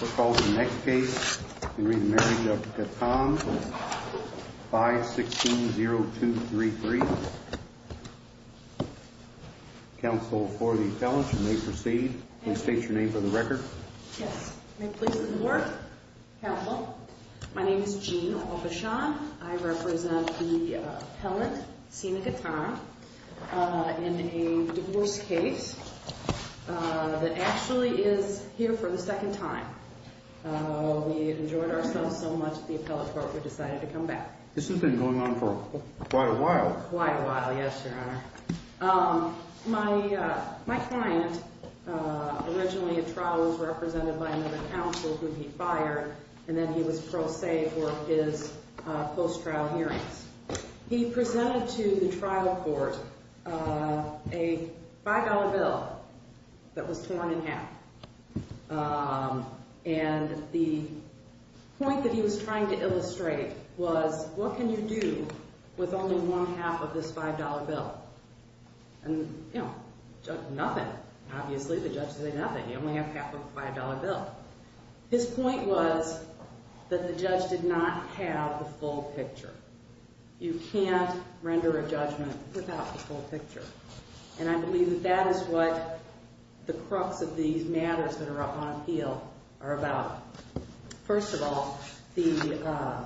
We'll call the next case in re Marriage of Ghatan, 516-0233. Counsel for the appellant, you may proceed. Can you state your name for the record? Yes. I'm pleased to do the work. Counsel, my name is Jean Aubuchon. I represent the appellant, Sina Ghatan, in a divorce case that actually is here for the second time. We enjoyed ourselves so much at the appellate court, we decided to come back. This has been going on for quite a while. Quite a while, yes, your honor. My client, originally a trial was represented by another counsel who he fired, and then he was pro se for his post-trial hearings. He presented to the trial court a $5 bill that was torn in half. And the point that he was trying to illustrate was, what can you do with only one half of this $5 bill? And, you know, nothing. Obviously, the judge said nothing. You only have half of a $5 bill. His point was that the judge did not have the full picture. You can't render a judgment without the full picture. And I believe that that is what the crux of these matters that are on appeal are about. First of all, the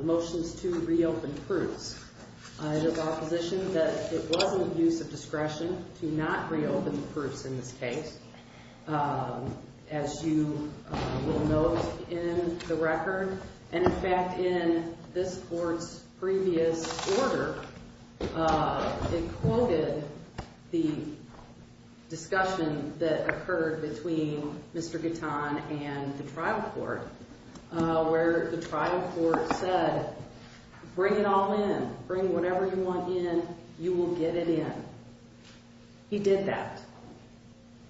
motions to reopen proofs. There's opposition that it was an abuse of discretion to not reopen the proofs in this case, as you will note in the record. And, in fact, in this court's previous order, it quoted the discussion that occurred between Mr. Gatton and the trial court, where the trial court said, Bring it all in. Bring whatever you want in. You will get it in. He did that.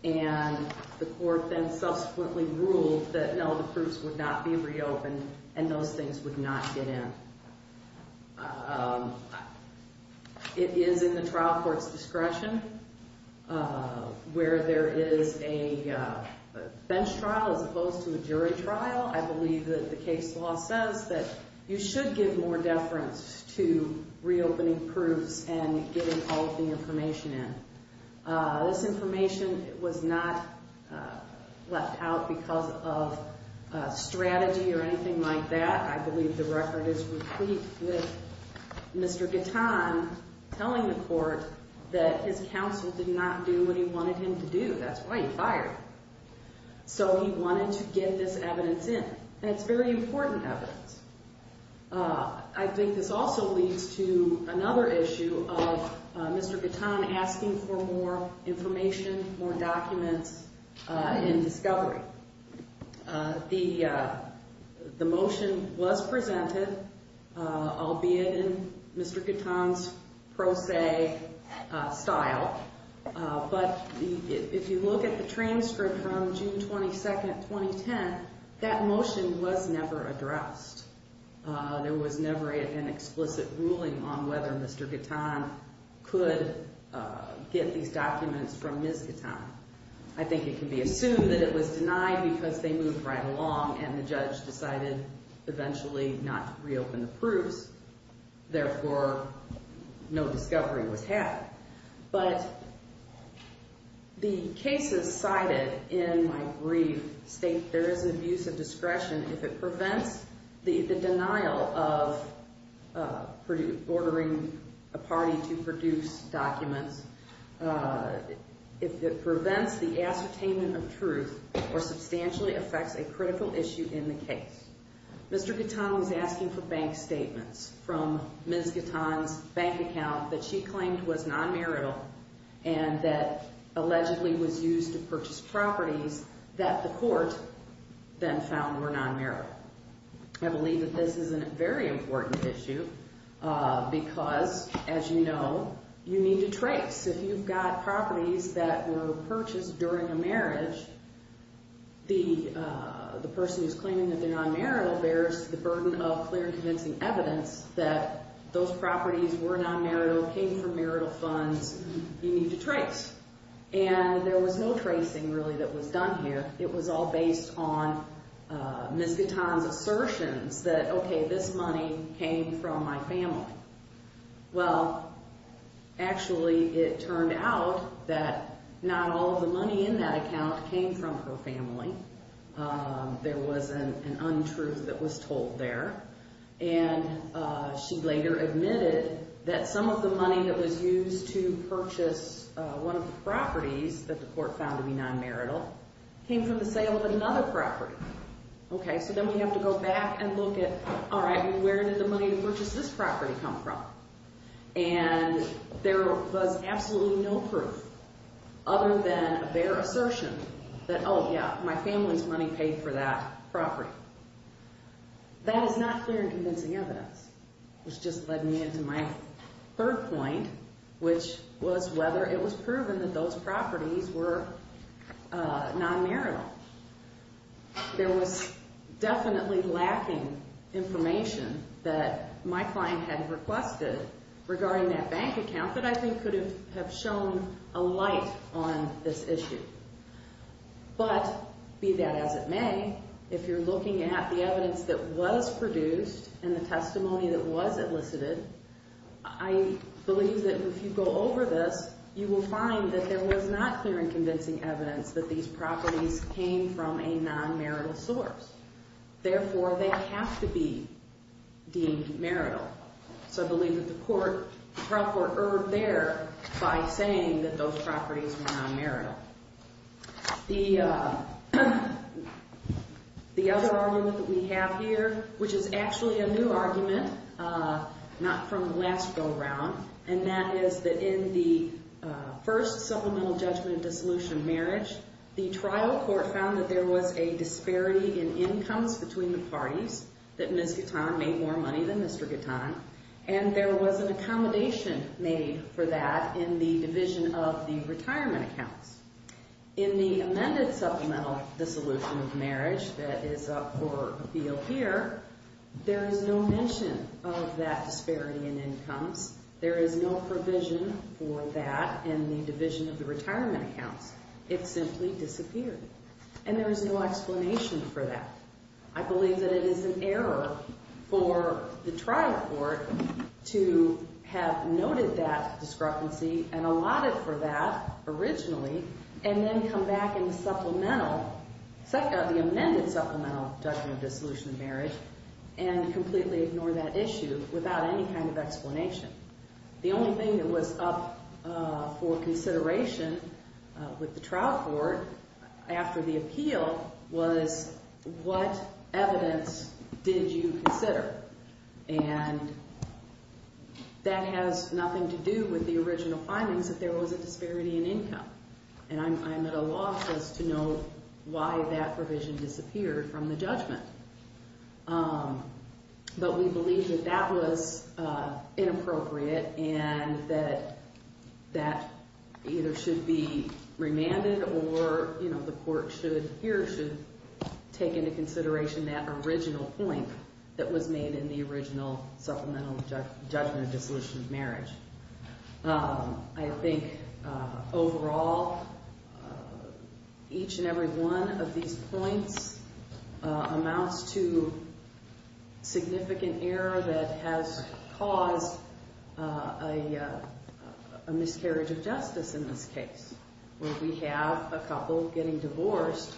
And the court then subsequently ruled that, no, the proofs would not be reopened, and those things would not get in. It is in the trial court's discretion, where there is a bench trial as opposed to a jury trial. I believe that the case law says that you should give more deference to reopening proofs and getting all of the information in. This information was not left out because of strategy or anything like that. I believe the record is complete with Mr. Gatton telling the court that his counsel did not do what he wanted him to do. That's why he fired him. So he wanted to get this evidence in, and it's very important evidence. I think this also leads to another issue of Mr. Gatton asking for more information, more documents, and discovery. The motion was presented, albeit in Mr. Gatton's pro se style. But if you look at the transcript from June 22, 2010, that motion was never addressed. There was never an explicit ruling on whether Mr. Gatton could get these documents from Ms. Gatton. I think it can be assumed that it was denied because they moved right along and the judge decided eventually not to reopen the proofs. Therefore, no discovery was had. But the cases cited in my brief state there is abuse of discretion if it prevents the denial of ordering a party to produce documents. If it prevents the ascertainment of truth or substantially affects a critical issue in the case. Mr. Gatton was asking for bank statements from Ms. Gatton's bank account that she claimed was non-marital and that allegedly was used to purchase properties that the court then found were non-marital. I believe that this is a very important issue because, as you know, you need to trace. If you've got properties that were purchased during a marriage, the person who's claiming that they're non-marital bears the burden of clear and convincing evidence that those properties were non-marital, came from marital funds. You need to trace. And there was no tracing really that was done here. It was all based on Ms. Gatton's assertions that, okay, this money came from my family. Well, actually, it turned out that not all of the money in that account came from her family. There was an untruth that was told there. And she later admitted that some of the money that was used to purchase one of the properties that the court found to be non-marital came from the sale of another property. Okay, so then we have to go back and look at, all right, where did the money to purchase this property come from? And there was absolutely no proof other than a bare assertion that, oh, yeah, my family's money paid for that property. That is not clear and convincing evidence, which just led me into my third point, which was whether it was proven that those properties were non-marital. There was definitely lacking information that my client had requested regarding that bank account that I think could have shown a light on this issue. But be that as it may, if you're looking at the evidence that was produced and the testimony that was elicited, I believe that if you go over this, you will find that there was not clear and convincing evidence that these properties came from a non-marital source. Therefore, they have to be deemed marital. So I believe that the trial court erred there by saying that those properties were non-marital. The other argument that we have here, which is actually a new argument, not from the last go-around, and that is that in the first supplemental judgment dissolution marriage, the trial court found that there was a disparity in incomes between the parties, that Ms. Gatton made more money than Mr. Gatton, and there was an accommodation made for that in the division of the retirement accounts. In the amended supplemental dissolution of marriage that is up for appeal here, there is no mention of that disparity in incomes. There is no provision for that in the division of the retirement accounts. It simply disappeared, and there is no explanation for that. I believe that it is an error for the trial court to have noted that discrepancy and allotted for that originally and then come back in the supplemental, the amended supplemental judgment dissolution of marriage and completely ignore that issue without any kind of explanation. The only thing that was up for consideration with the trial court after the appeal was what evidence did you consider? And that has nothing to do with the original findings that there was a disparity in income, and I'm at a loss as to know why that provision disappeared from the judgment. But we believe that that was inappropriate and that that either should be remanded or, you know, the court should here should take into consideration that original point that was made in the original supplemental judgment dissolution of marriage. I think overall each and every one of these points amounts to significant error that has caused a miscarriage of justice in this case. We have a couple getting divorced,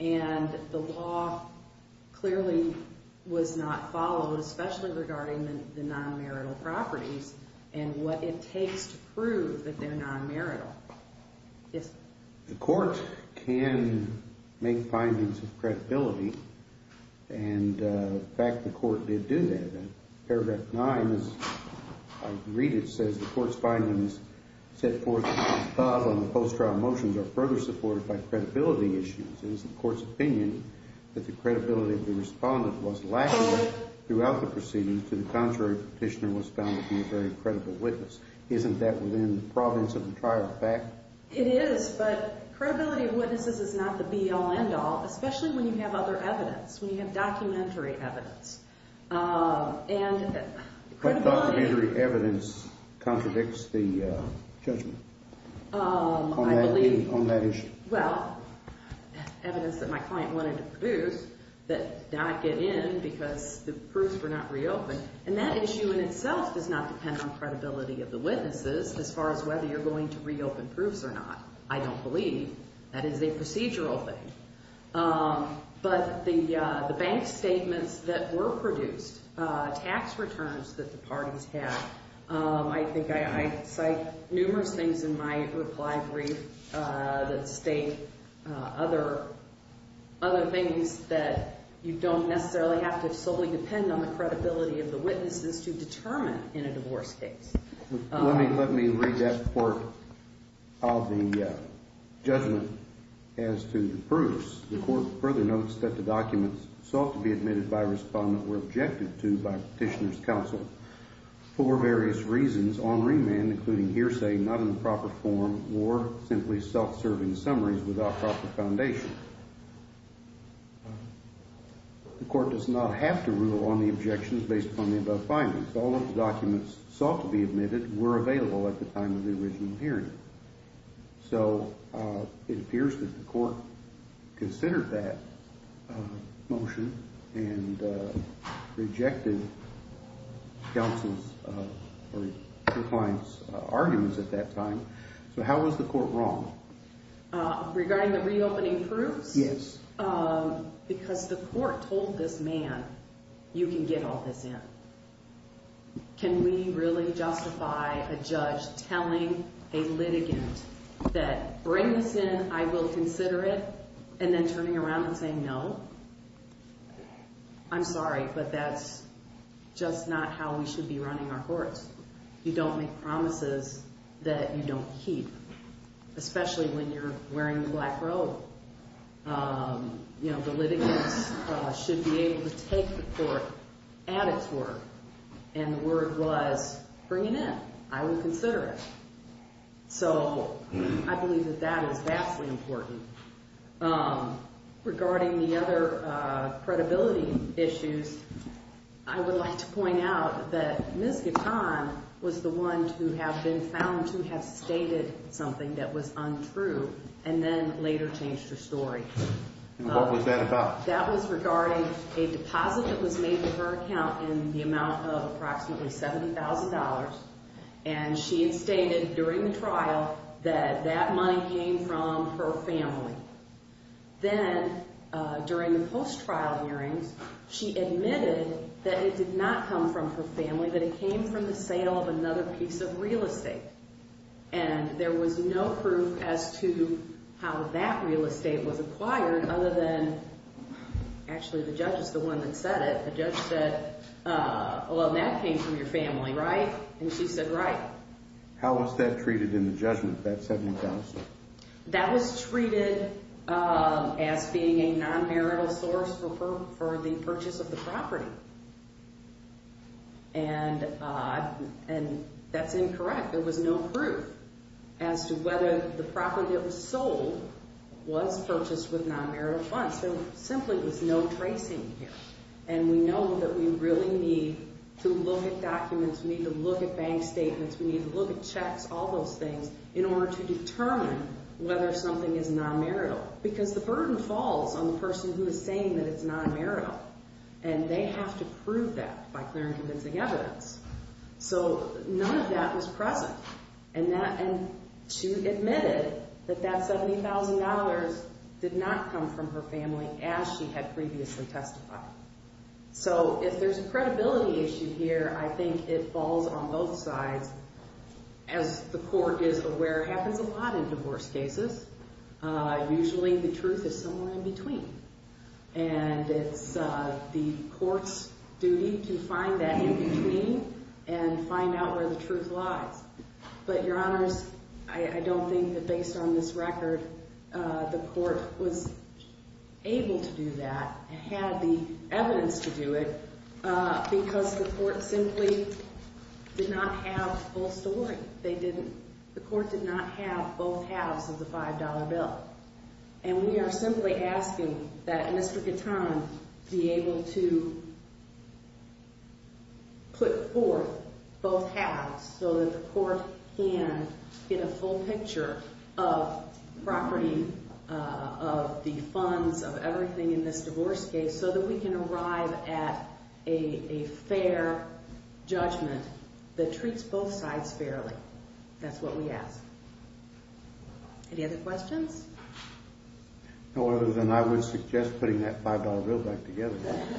and the law clearly was not followed, especially regarding the non-marital properties and what it takes to prove that they're non-marital. The court can make findings of credibility, and in fact the court did do that. In paragraph 9, as I read it, it says the court's findings set forth above on the post-trial motions are further supported by credibility issues. It is the court's opinion that the credibility of the respondent was lacking throughout the proceeding to the contrary petitioner was found to be a very credible witness. Isn't that within the province of the prior fact? It is, but credibility of witnesses is not the be-all, end-all, especially when you have other evidence, when you have documentary evidence. But documentary evidence contradicts the judgment on that issue. Well, evidence that my client wanted to produce that did not get in because the proofs were not reopened, and that issue in itself does not depend on credibility of the witnesses as far as whether you're going to reopen proofs or not. I don't believe that is a procedural thing. But the bank statements that were produced, tax returns that the parties had, I think I cite numerous things in my reply brief that state other things that you don't necessarily have to solely depend on the credibility of the witnesses to determine in a divorce case. Let me read that part of the judgment as to the proofs. The court further notes that the documents sought to be admitted by respondent were objected to by petitioner's counsel for various reasons on remand, including hearsay not in the proper form or simply self-serving summaries without proper foundation. The court does not have to rule on the objections based upon the above findings. All of the documents sought to be admitted were available at the time of the original hearing. So it appears that the court considered that motion and rejected counsel's or your client's arguments at that time. So how was the court wrong? Regarding the reopening proofs? Yes. Because the court told this man, you can get all this in. Can we really justify a judge telling a litigant that bring this in, I will consider it and then turning around and saying no? I'm sorry, but that's just not how we should be running our courts. You don't make promises that you don't keep, especially when you're wearing the black robe. You know, the litigants should be able to take the court at its word, and the word was bring it in. I will consider it. So I believe that that is vastly important. Regarding the other credibility issues, I would like to point out that Ms. Gatton was the one to have been found to have stated something that was untrue and then later changed her story. What was that about? That was regarding a deposit that was made to her account in the amount of approximately $70,000, and she had stated during the trial that that money came from her family. Then during the post-trial hearings, she admitted that it did not come from her family, that it came from the sale of another piece of real estate. And there was no proof as to how that real estate was acquired other than actually the judge is the one that said it. The judge said, well, that came from your family, right? And she said, right. How was that treated in the judgment, that $70,000? That was treated as being a non-marital source for the purchase of the property. And that's incorrect. There was no proof as to whether the property that was sold was purchased with non-marital funds. There simply was no tracing here. And we know that we really need to look at documents, we need to look at bank statements, we need to look at checks, all those things, in order to determine whether something is non-marital. Because the burden falls on the person who is saying that it's non-marital, and they have to prove that by clear and convincing evidence. So none of that was present. And she admitted that that $70,000 did not come from her family as she had previously testified. So if there's a credibility issue here, I think it falls on both sides. As the court is aware, it happens a lot in divorce cases. Usually the truth is somewhere in between. And it's the court's duty to find that in between and find out where the truth lies. But, Your Honors, I don't think that based on this record the court was able to do that, had the evidence to do it, because the court simply did not have full story. They didn't. The court did not have both halves of the $5 bill. And we are simply asking that Mr. Gatton be able to put forth both halves so that the court can get a full picture of property, of the funds, of everything in this divorce case, so that we can arrive at a fair judgment that treats both sides fairly. That's what we ask. Any other questions? No other than I would suggest putting that $5 bill back together. I'm going to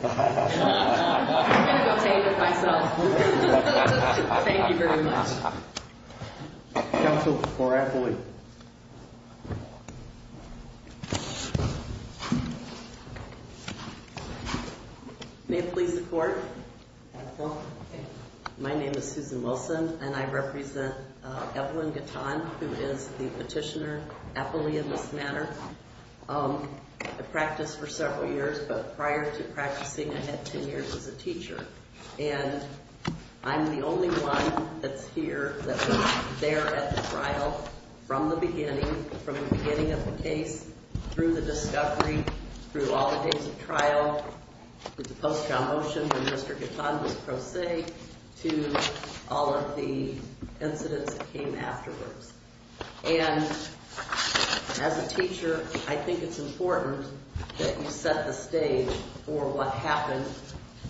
go take it myself. Thank you very much. Counsel for Eppley. May it please the Court? My name is Susan Wilson, and I represent Evelyn Gatton, who is the petitioner, Eppley, in this matter. I've practiced for several years, but prior to practicing I had 10 years as a teacher. And I'm the only one that's here that was there at the trial from the beginning, from the beginning of the case, through the discovery, through all the days of trial, through the post-trial motion when Mr. Gatton was pro se, to all of the incidents that came afterwards. And as a teacher, I think it's important that you set the stage for what happened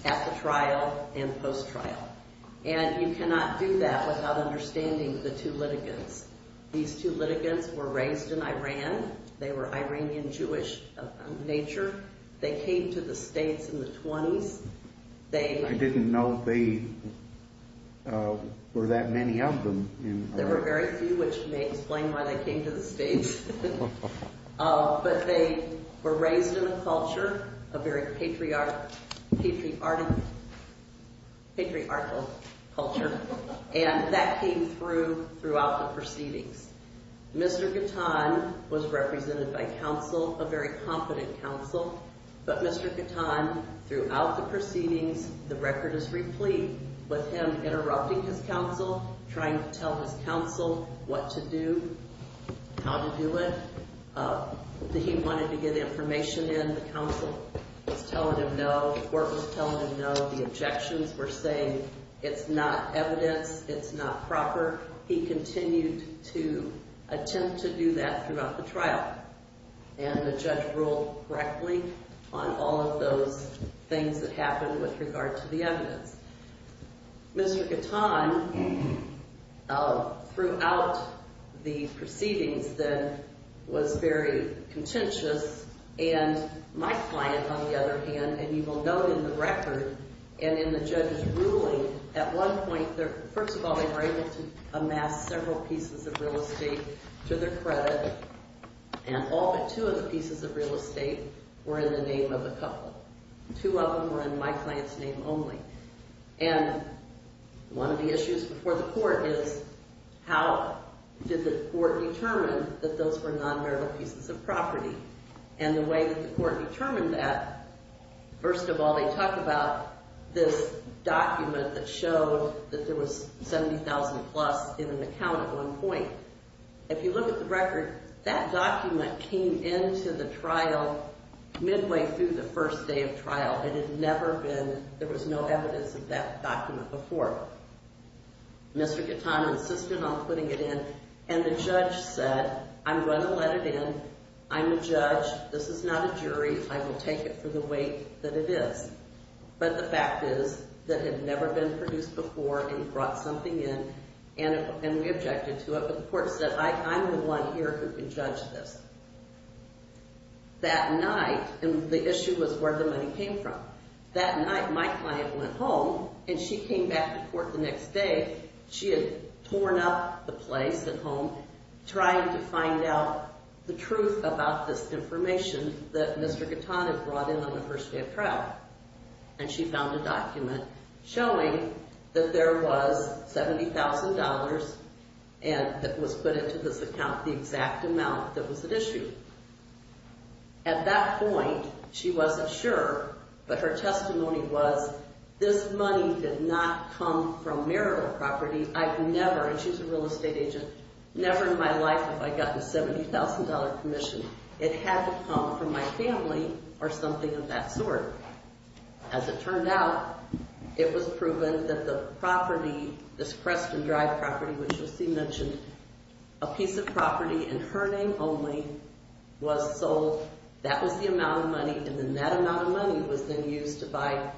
at the trial and post-trial. And you cannot do that without understanding the two litigants. These two litigants were raised in Iran. They were Iranian Jewish of nature. They came to the states in the 20s. I didn't know they were that many of them. There were very few, which may explain why they came to the states. But they were raised in a culture, a very patriarchal culture, and that came through throughout the proceedings. Mr. Gatton was represented by counsel, a very competent counsel, but Mr. Gatton, throughout the proceedings, the record is replete with him interrupting his counsel, trying to tell his counsel what to do, how to do it. He wanted to get information in. The counsel was telling him no. The court was telling him no. The objections were saying it's not evidence. It's not proper. He continued to attempt to do that throughout the trial. And the judge ruled correctly on all of those things that happened with regard to the evidence. Mr. Gatton, throughout the proceedings then, was very contentious. And my client, on the other hand, and you will note in the record and in the judge's ruling, at one point, first of all, they were able to amass several pieces of real estate to their credit, and all but two of the pieces of real estate were in the name of a couple. Two of them were in my client's name only. And one of the issues before the court is how did the court determine that those were non-verbal pieces of property? And the way that the court determined that, first of all, they talked about this document that showed that there was $70,000 plus in an account at one point. If you look at the record, that document came into the trial midway through the first day of trial. It had never been, there was no evidence of that document before. Mr. Gatton insisted on putting it in, and the judge said, I'm going to let it in. I'm a judge. This is not a jury. I will take it for the weight that it is. But the fact is that it had never been produced before, and he brought something in, and we objected to it. But the court said, I'm the one here who can judge this. That night, and the issue was where the money came from. That night, my client went home, and she came back to court the next day. She had torn up the place at home trying to find out the truth about this information that Mr. Gatton had brought in on the first day of trial. And she found a document showing that there was $70,000, and it was put into this account the exact amount that was at issue. At that point, she wasn't sure, but her testimony was, this money did not come from marital property. I've never, and she's a real estate agent, never in my life have I gotten a $70,000 commission. It had to come from my family or something of that sort. As it turned out, it was proven that the property, this Creston Drive property, which you'll see mentioned, a piece of property in her name only was sold. That was the amount of money, and then that amount of money was then used to buy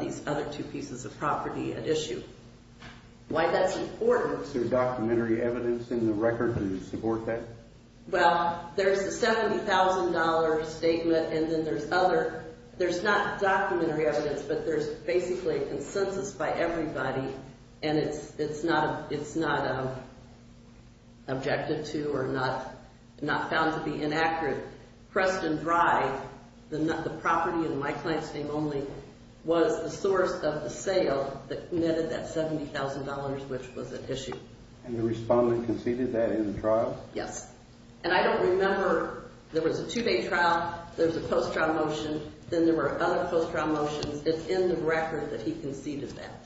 these other two pieces of property at issue. Why that's important. Is there documentary evidence in the record to support that? Well, there's a $70,000 statement, and then there's other. There's not documentary evidence, but there's basically a consensus by everybody, and it's not objected to or not found to be inaccurate. Creston Drive, the property in my client's name only, was the source of the sale that netted that $70,000, which was at issue. And the respondent conceded that in the trial? Yes. And I don't remember, there was a two-day trial, there was a post-trial motion, then there were other post-trial motions. It's in the record that he conceded that.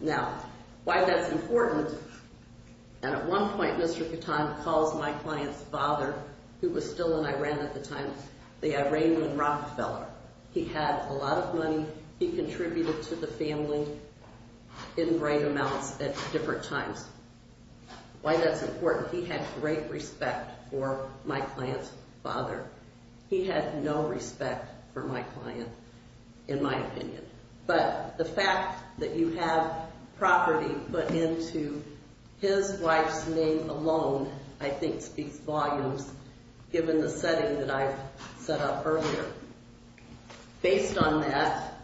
Now, why that's important, and at one point Mr. Catan calls my client's father, who was still in Iran at the time, the Iranian Rockefeller. He had a lot of money. He contributed to the family in great amounts at different times. Why that's important. He had great respect for my client's father. He had no respect for my client, in my opinion. But the fact that you have property put into his wife's name alone, I think speaks volumes, given the setting that I've set up earlier. Based on that,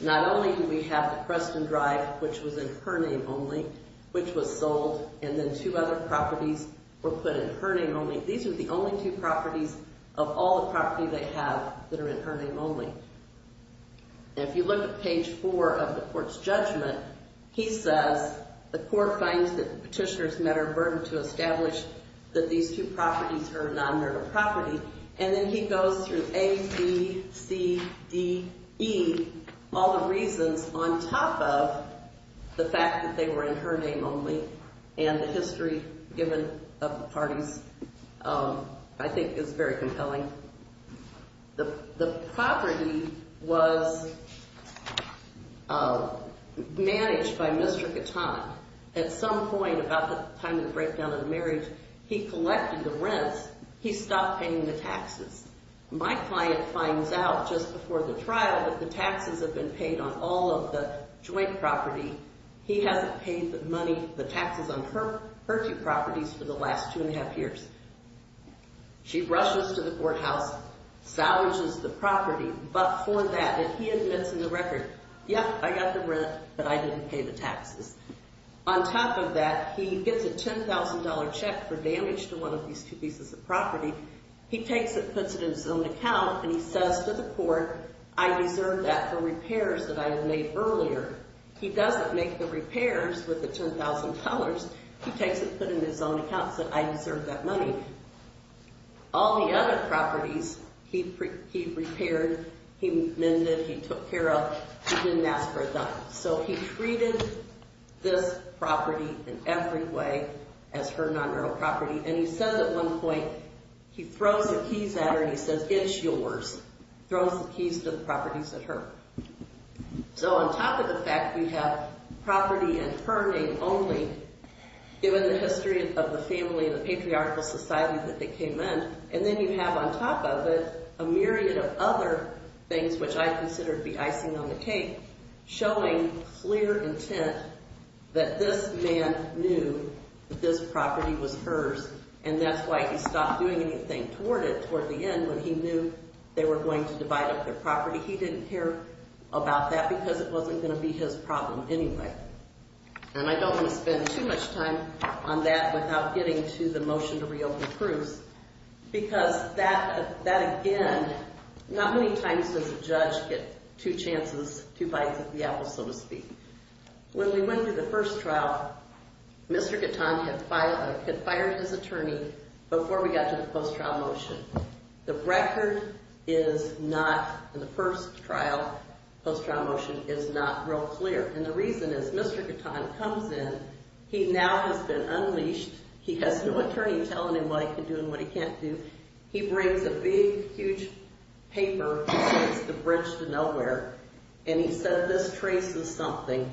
not only do we have the Preston Drive, which was in her name only, which was sold, and then two other properties were put in her name only. These are the only two properties of all the property they have that are in her name only. And if you look at page four of the court's judgment, he says the court finds that the petitioner's met her burden to establish that these two properties are non-nerdal property. And then he goes through A, B, C, D, E, all the reasons, on top of the fact that they were in her name only, and the history given of the parties, I think is very compelling. The property was managed by Mr. Katana. At some point about the time of the breakdown of the marriage, he collected the rents. He stopped paying the taxes. My client finds out just before the trial that the taxes have been paid on all of the joint property. He hasn't paid the money, the taxes on her two properties for the last two and a half years. She rushes to the courthouse, salvages the property, but for that, and he admits in the record, yep, I got the rent, but I didn't pay the taxes. On top of that, he gets a $10,000 check for damage to one of these two pieces of property. He takes it, puts it in his own account, and he says to the court, I deserve that for repairs that I have made earlier. He doesn't make the repairs with the $10,000. He takes it, puts it in his own account, and says, I deserve that money. All the other properties, he repaired, he mended, he took care of. He didn't ask for a dime. So he treated this property in every way as her non-real property, and he says at one point, he throws the keys at her, and he says, it's yours. He throws the keys to the properties at her. So on top of the fact we have property in her name only, given the history of the family and the patriarchal society that they came in, and then you have on top of it a myriad of other things, which I consider to be icing on the cake, showing clear intent that this man knew that this property was hers, and that's why he stopped doing anything toward it, toward the end, when he knew they were going to divide up their property. He didn't care about that because it wasn't going to be his problem anyway. And I don't want to spend too much time on that without getting to the motion to reopen Cruz, because that, again, not many times does a judge get two chances, two bites of the apple, so to speak. When we went through the first trial, Mr. Gatton had fired his attorney before we got to the post-trial motion. The record is not, in the first trial, post-trial motion, is not real clear. And the reason is Mr. Gatton comes in, he now has been unleashed, he has no attorney telling him what he can do and what he can't do. He brings a big, huge paper that says the bridge to nowhere, and he said this traces something.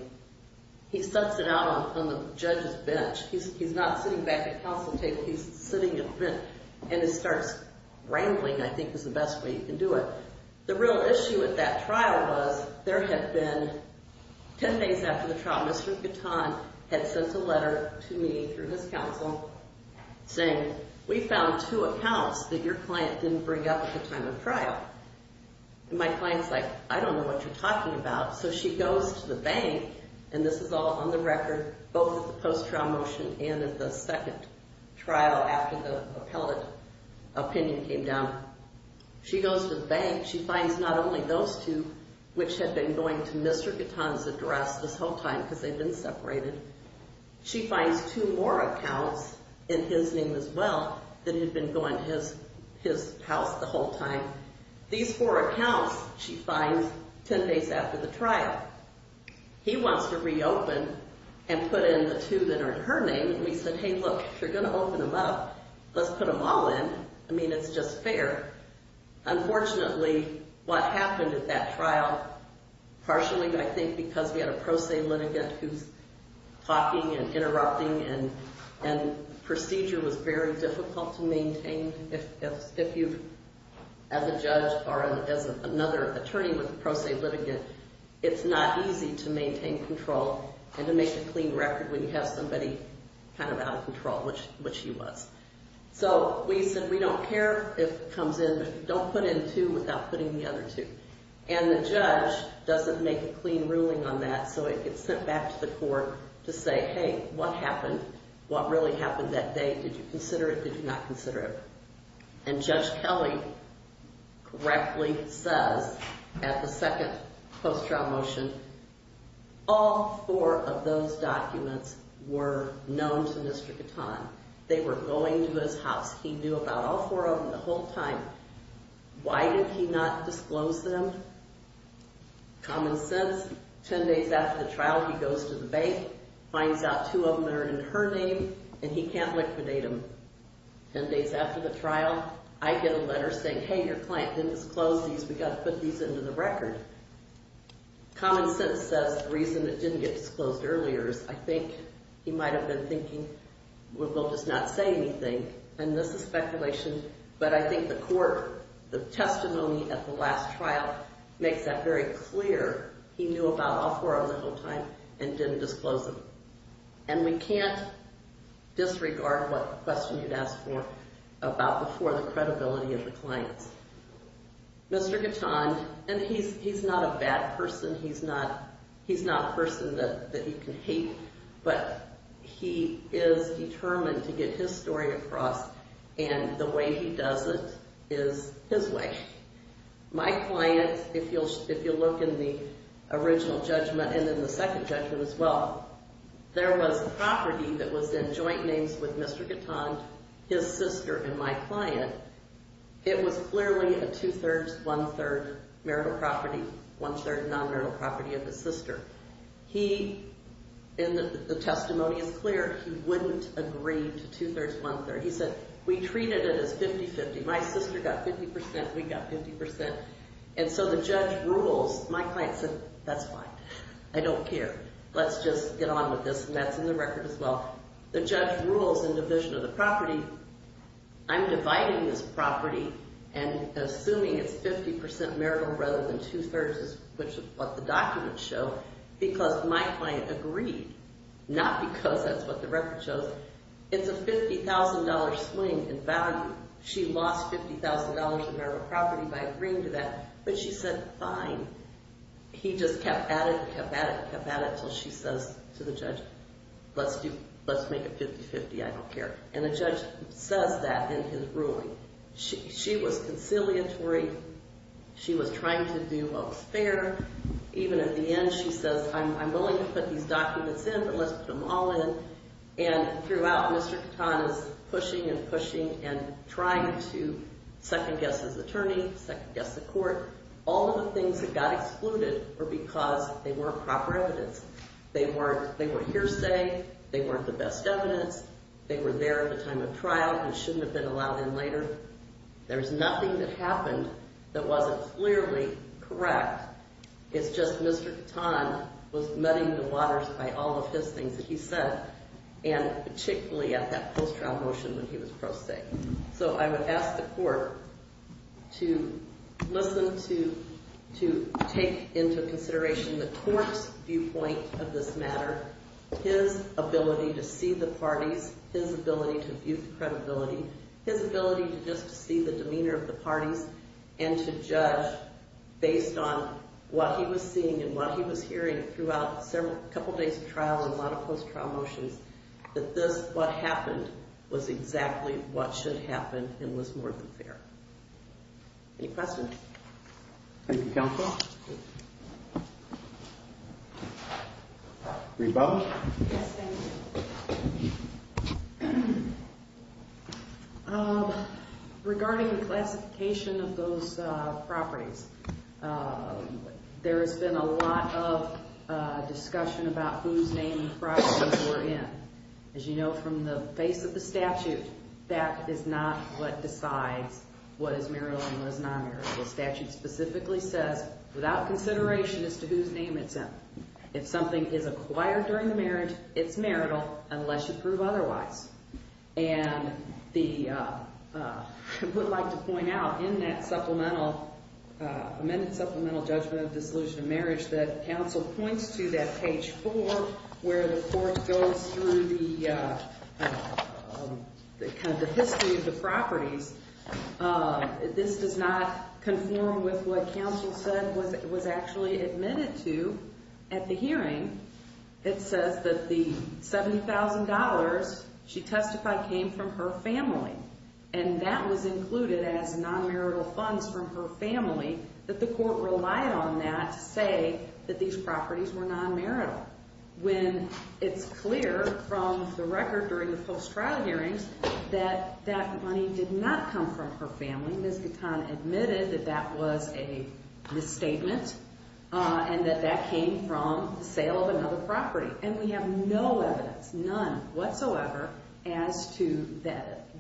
He sets it out on the judge's bench. He's not sitting back at counsel table, he's sitting in front, and he starts rambling, I think, is the best way you can do it. The real issue with that trial was there had been, 10 days after the trial, Mr. Gatton had sent a letter to me through his counsel saying, we found two accounts that your client didn't bring up at the time of trial. And my client's like, I don't know what you're talking about. So she goes to the bank, and this is all on the record, both the post-trial motion and in the second trial after the appellate opinion came down. She goes to the bank, she finds not only those two, which had been going to Mr. Gatton's address this whole time because they'd been separated. She finds two more accounts in his name as well that had been going to his house the whole time. These four accounts she finds 10 days after the trial. He wants to reopen and put in the two that are in her name. And we said, hey, look, if you're going to open them up, let's put them all in. I mean, it's just fair. Unfortunately, what happened at that trial, partially, I think, because we had a pro se litigant who's talking and interrupting, and procedure was very difficult to maintain if you, as a judge or as another attorney with a pro se litigant, it's not easy to maintain control and to make a clean record when you have somebody kind of out of control, which he was. So we said, we don't care if it comes in, but don't put in two without putting the other two. And the judge doesn't make a clean ruling on that, so it gets sent back to the court to say, hey, what happened? What really happened that day? Did you consider it? Did you not consider it? And Judge Kelly correctly says at the second post-trial motion, all four of those documents were known to Mr. Gatton. They were going to his house. He knew about all four of them the whole time. Why did he not disclose them? Common sense. Ten days after the trial, he goes to the bank, finds out two of them are in her name, and he can't liquidate them. Ten days after the trial, I get a letter saying, hey, your client didn't disclose these. We've got to put these into the record. Common sense says the reason it didn't get disclosed earlier is, I think, he might have been thinking, well, they'll just not say anything. And this is speculation, but I think the court, the testimony at the last trial makes that very clear. He knew about all four of them the whole time and didn't disclose them. And we can't disregard what question you'd ask for about the credibility of the clients. Mr. Gatton, and he's not a bad person. He's not a person that you can hate, but he is determined to get his story across, and the way he does it is his way. My client, if you look in the original judgment and in the second judgment as well, there was property that was in joint names with Mr. Gatton, his sister, and my client. It was clearly a two-thirds, one-third marital property, one-third non-marital property of his sister. He, and the testimony is clear, he wouldn't agree to two-thirds, one-third. He said, we treated it as 50-50. My sister got 50 percent, we got 50 percent. And so the judge rules. My client said, that's fine. I don't care. Let's just get on with this, and that's in the record as well. The judge rules in division of the property. I'm dividing this property and assuming it's 50 percent marital rather than two-thirds, which is what the documents show, because my client agreed. Not because that's what the record shows. It's a $50,000 swing in value. She lost $50,000 in marital property by agreeing to that, but she said, fine. He just kept at it, kept at it, kept at it until she says to the judge, let's make it 50-50. I don't care. And the judge says that in his ruling. She was conciliatory. She was trying to do what was fair. Even at the end, she says, I'm willing to put these documents in, but let's put them all in. And throughout, Mr. Catan is pushing and pushing and trying to second-guess his attorney, second-guess the court. All of the things that got excluded were because they weren't proper evidence. They weren't hearsay. They weren't the best evidence. They were there at the time of trial and shouldn't have been allowed in later. There's nothing that happened that wasn't clearly correct. It's just Mr. Catan was muddying the waters by all of his things that he said, and particularly at that post-trial motion when he was pro se. So I would ask the court to listen to, to take into consideration the court's viewpoint of this matter, his ability to see the parties, his ability to view the credibility, his ability to just see the demeanor of the parties, and to judge based on what he was seeing and what he was hearing throughout a couple days of trial and a lot of post-trial motions, that this, what happened, was exactly what should happen and was more than fair. Any questions? Thank you, counsel. Yes, thank you. Regarding the classification of those properties, there has been a lot of discussion about whose name the properties were in. As you know from the face of the statute, that is not what decides what is marital and what is non-marital. The statute specifically says, without consideration as to whose name it's in. If something is acquired during the marriage, it's marital, unless you prove otherwise. And the, I would like to point out in that supplemental, amended supplemental judgment of dissolution of marriage that counsel points to that page four, where the court goes through the history of the properties. This does not conform with what counsel said was actually admitted to at the hearing. It says that the $70,000 she testified came from her family, and that was included as non-marital funds from her family, that the court relied on that to say that these properties were non-marital. When it's clear from the record during the post-trial hearings that that money did not come from her family, Ms. Gatton admitted that that was a misstatement and that that came from the sale of another property. And we have no evidence, none whatsoever, as to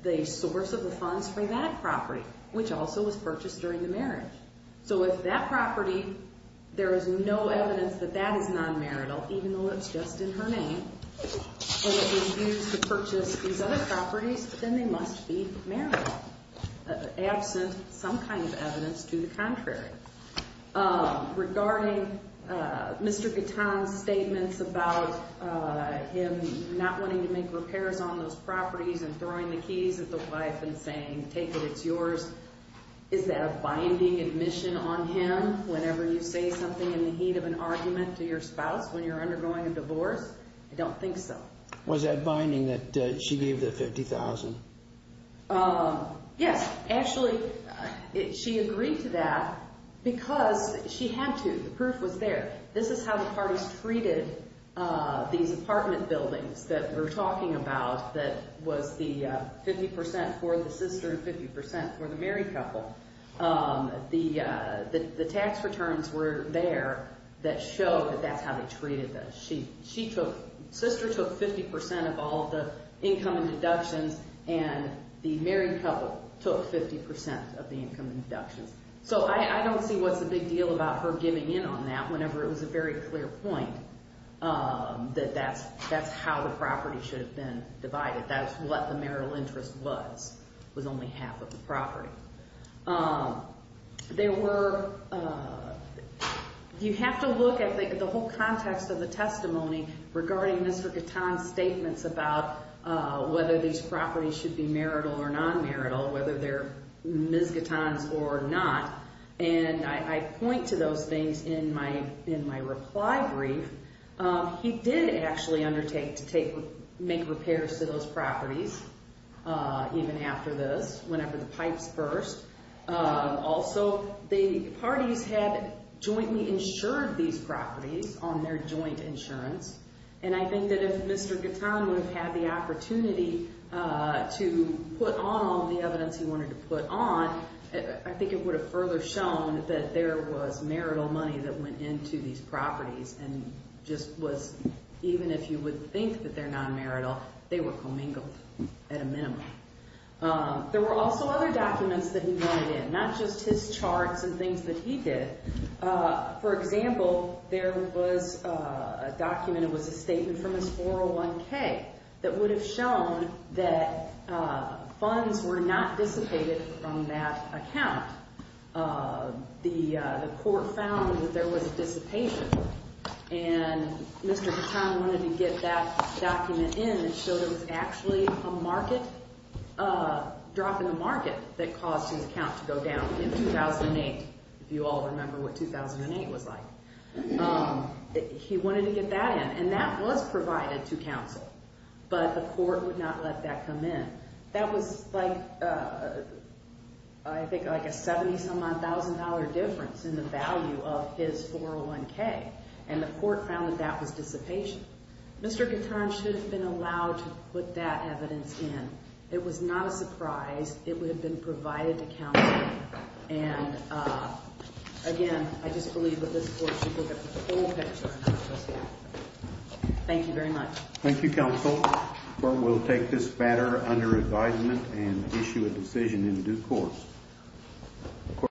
the source of the funds for that property, which also was purchased during the marriage. So if that property, there is no evidence that that is non-marital, even though it's just in her name, and it was used to purchase these other properties, then they must be marital. Absent some kind of evidence to the contrary. Regarding Mr. Gatton's statements about him not wanting to make repairs on those properties and throwing the keys at the wife and saying, take it, it's yours, is that a binding admission on him whenever you say something in the heat of an argument to your spouse when you're undergoing a divorce? I don't think so. Was that binding that she gave the $50,000? Yes, actually, she agreed to that because she had to. The proof was there. This is how the parties treated these apartment buildings that we're talking about, that was the 50% for the sister and 50% for the married couple. The tax returns were there that showed that that's how they treated them. Sister took 50% of all the income and deductions, and the married couple took 50% of the income and deductions. So I don't see what's the big deal about her giving in on that whenever it was a very clear point that that's how the property should have been divided. That's what the marital interest was, was only half of the property. You have to look at the whole context of the testimony regarding Mr. Gatton's statements about whether these properties should be marital or non-marital, whether they're Ms. Gatton's or not, and I point to those things in my reply brief. He did actually undertake to make repairs to those properties, even after this, whenever the pipes burst. Also, the parties had jointly insured these properties on their joint insurance, and I think that if Mr. Gatton would have had the opportunity to put on all the evidence he wanted to put on, I think it would have further shown that there was marital money that went into these properties, and just was, even if you would think that they're non-marital, they were commingled at a minimum. There were also other documents that he wanted in, not just his charts and things that he did. For example, there was a document, it was a statement from his 401k, that would have shown that funds were not dissipated from that account. The court found that there was a dissipation, and Mr. Gatton wanted to get that document in and show there was actually a market, a drop in the market that caused his account to go down in 2008, if you all remember what 2008 was like. He wanted to get that in, and that was provided to counsel, but the court would not let that come in. That was like, I think, like a $70,000 difference in the value of his 401k, and the court found that that was dissipation. Mr. Gatton should have been allowed to put that evidence in. It was not a surprise, it would have been provided to counsel, and again, I just believe that this court should look at the full picture. Thank you very much. Thank you, counsel. The court will take this matter under advisement and issue a decision in due course.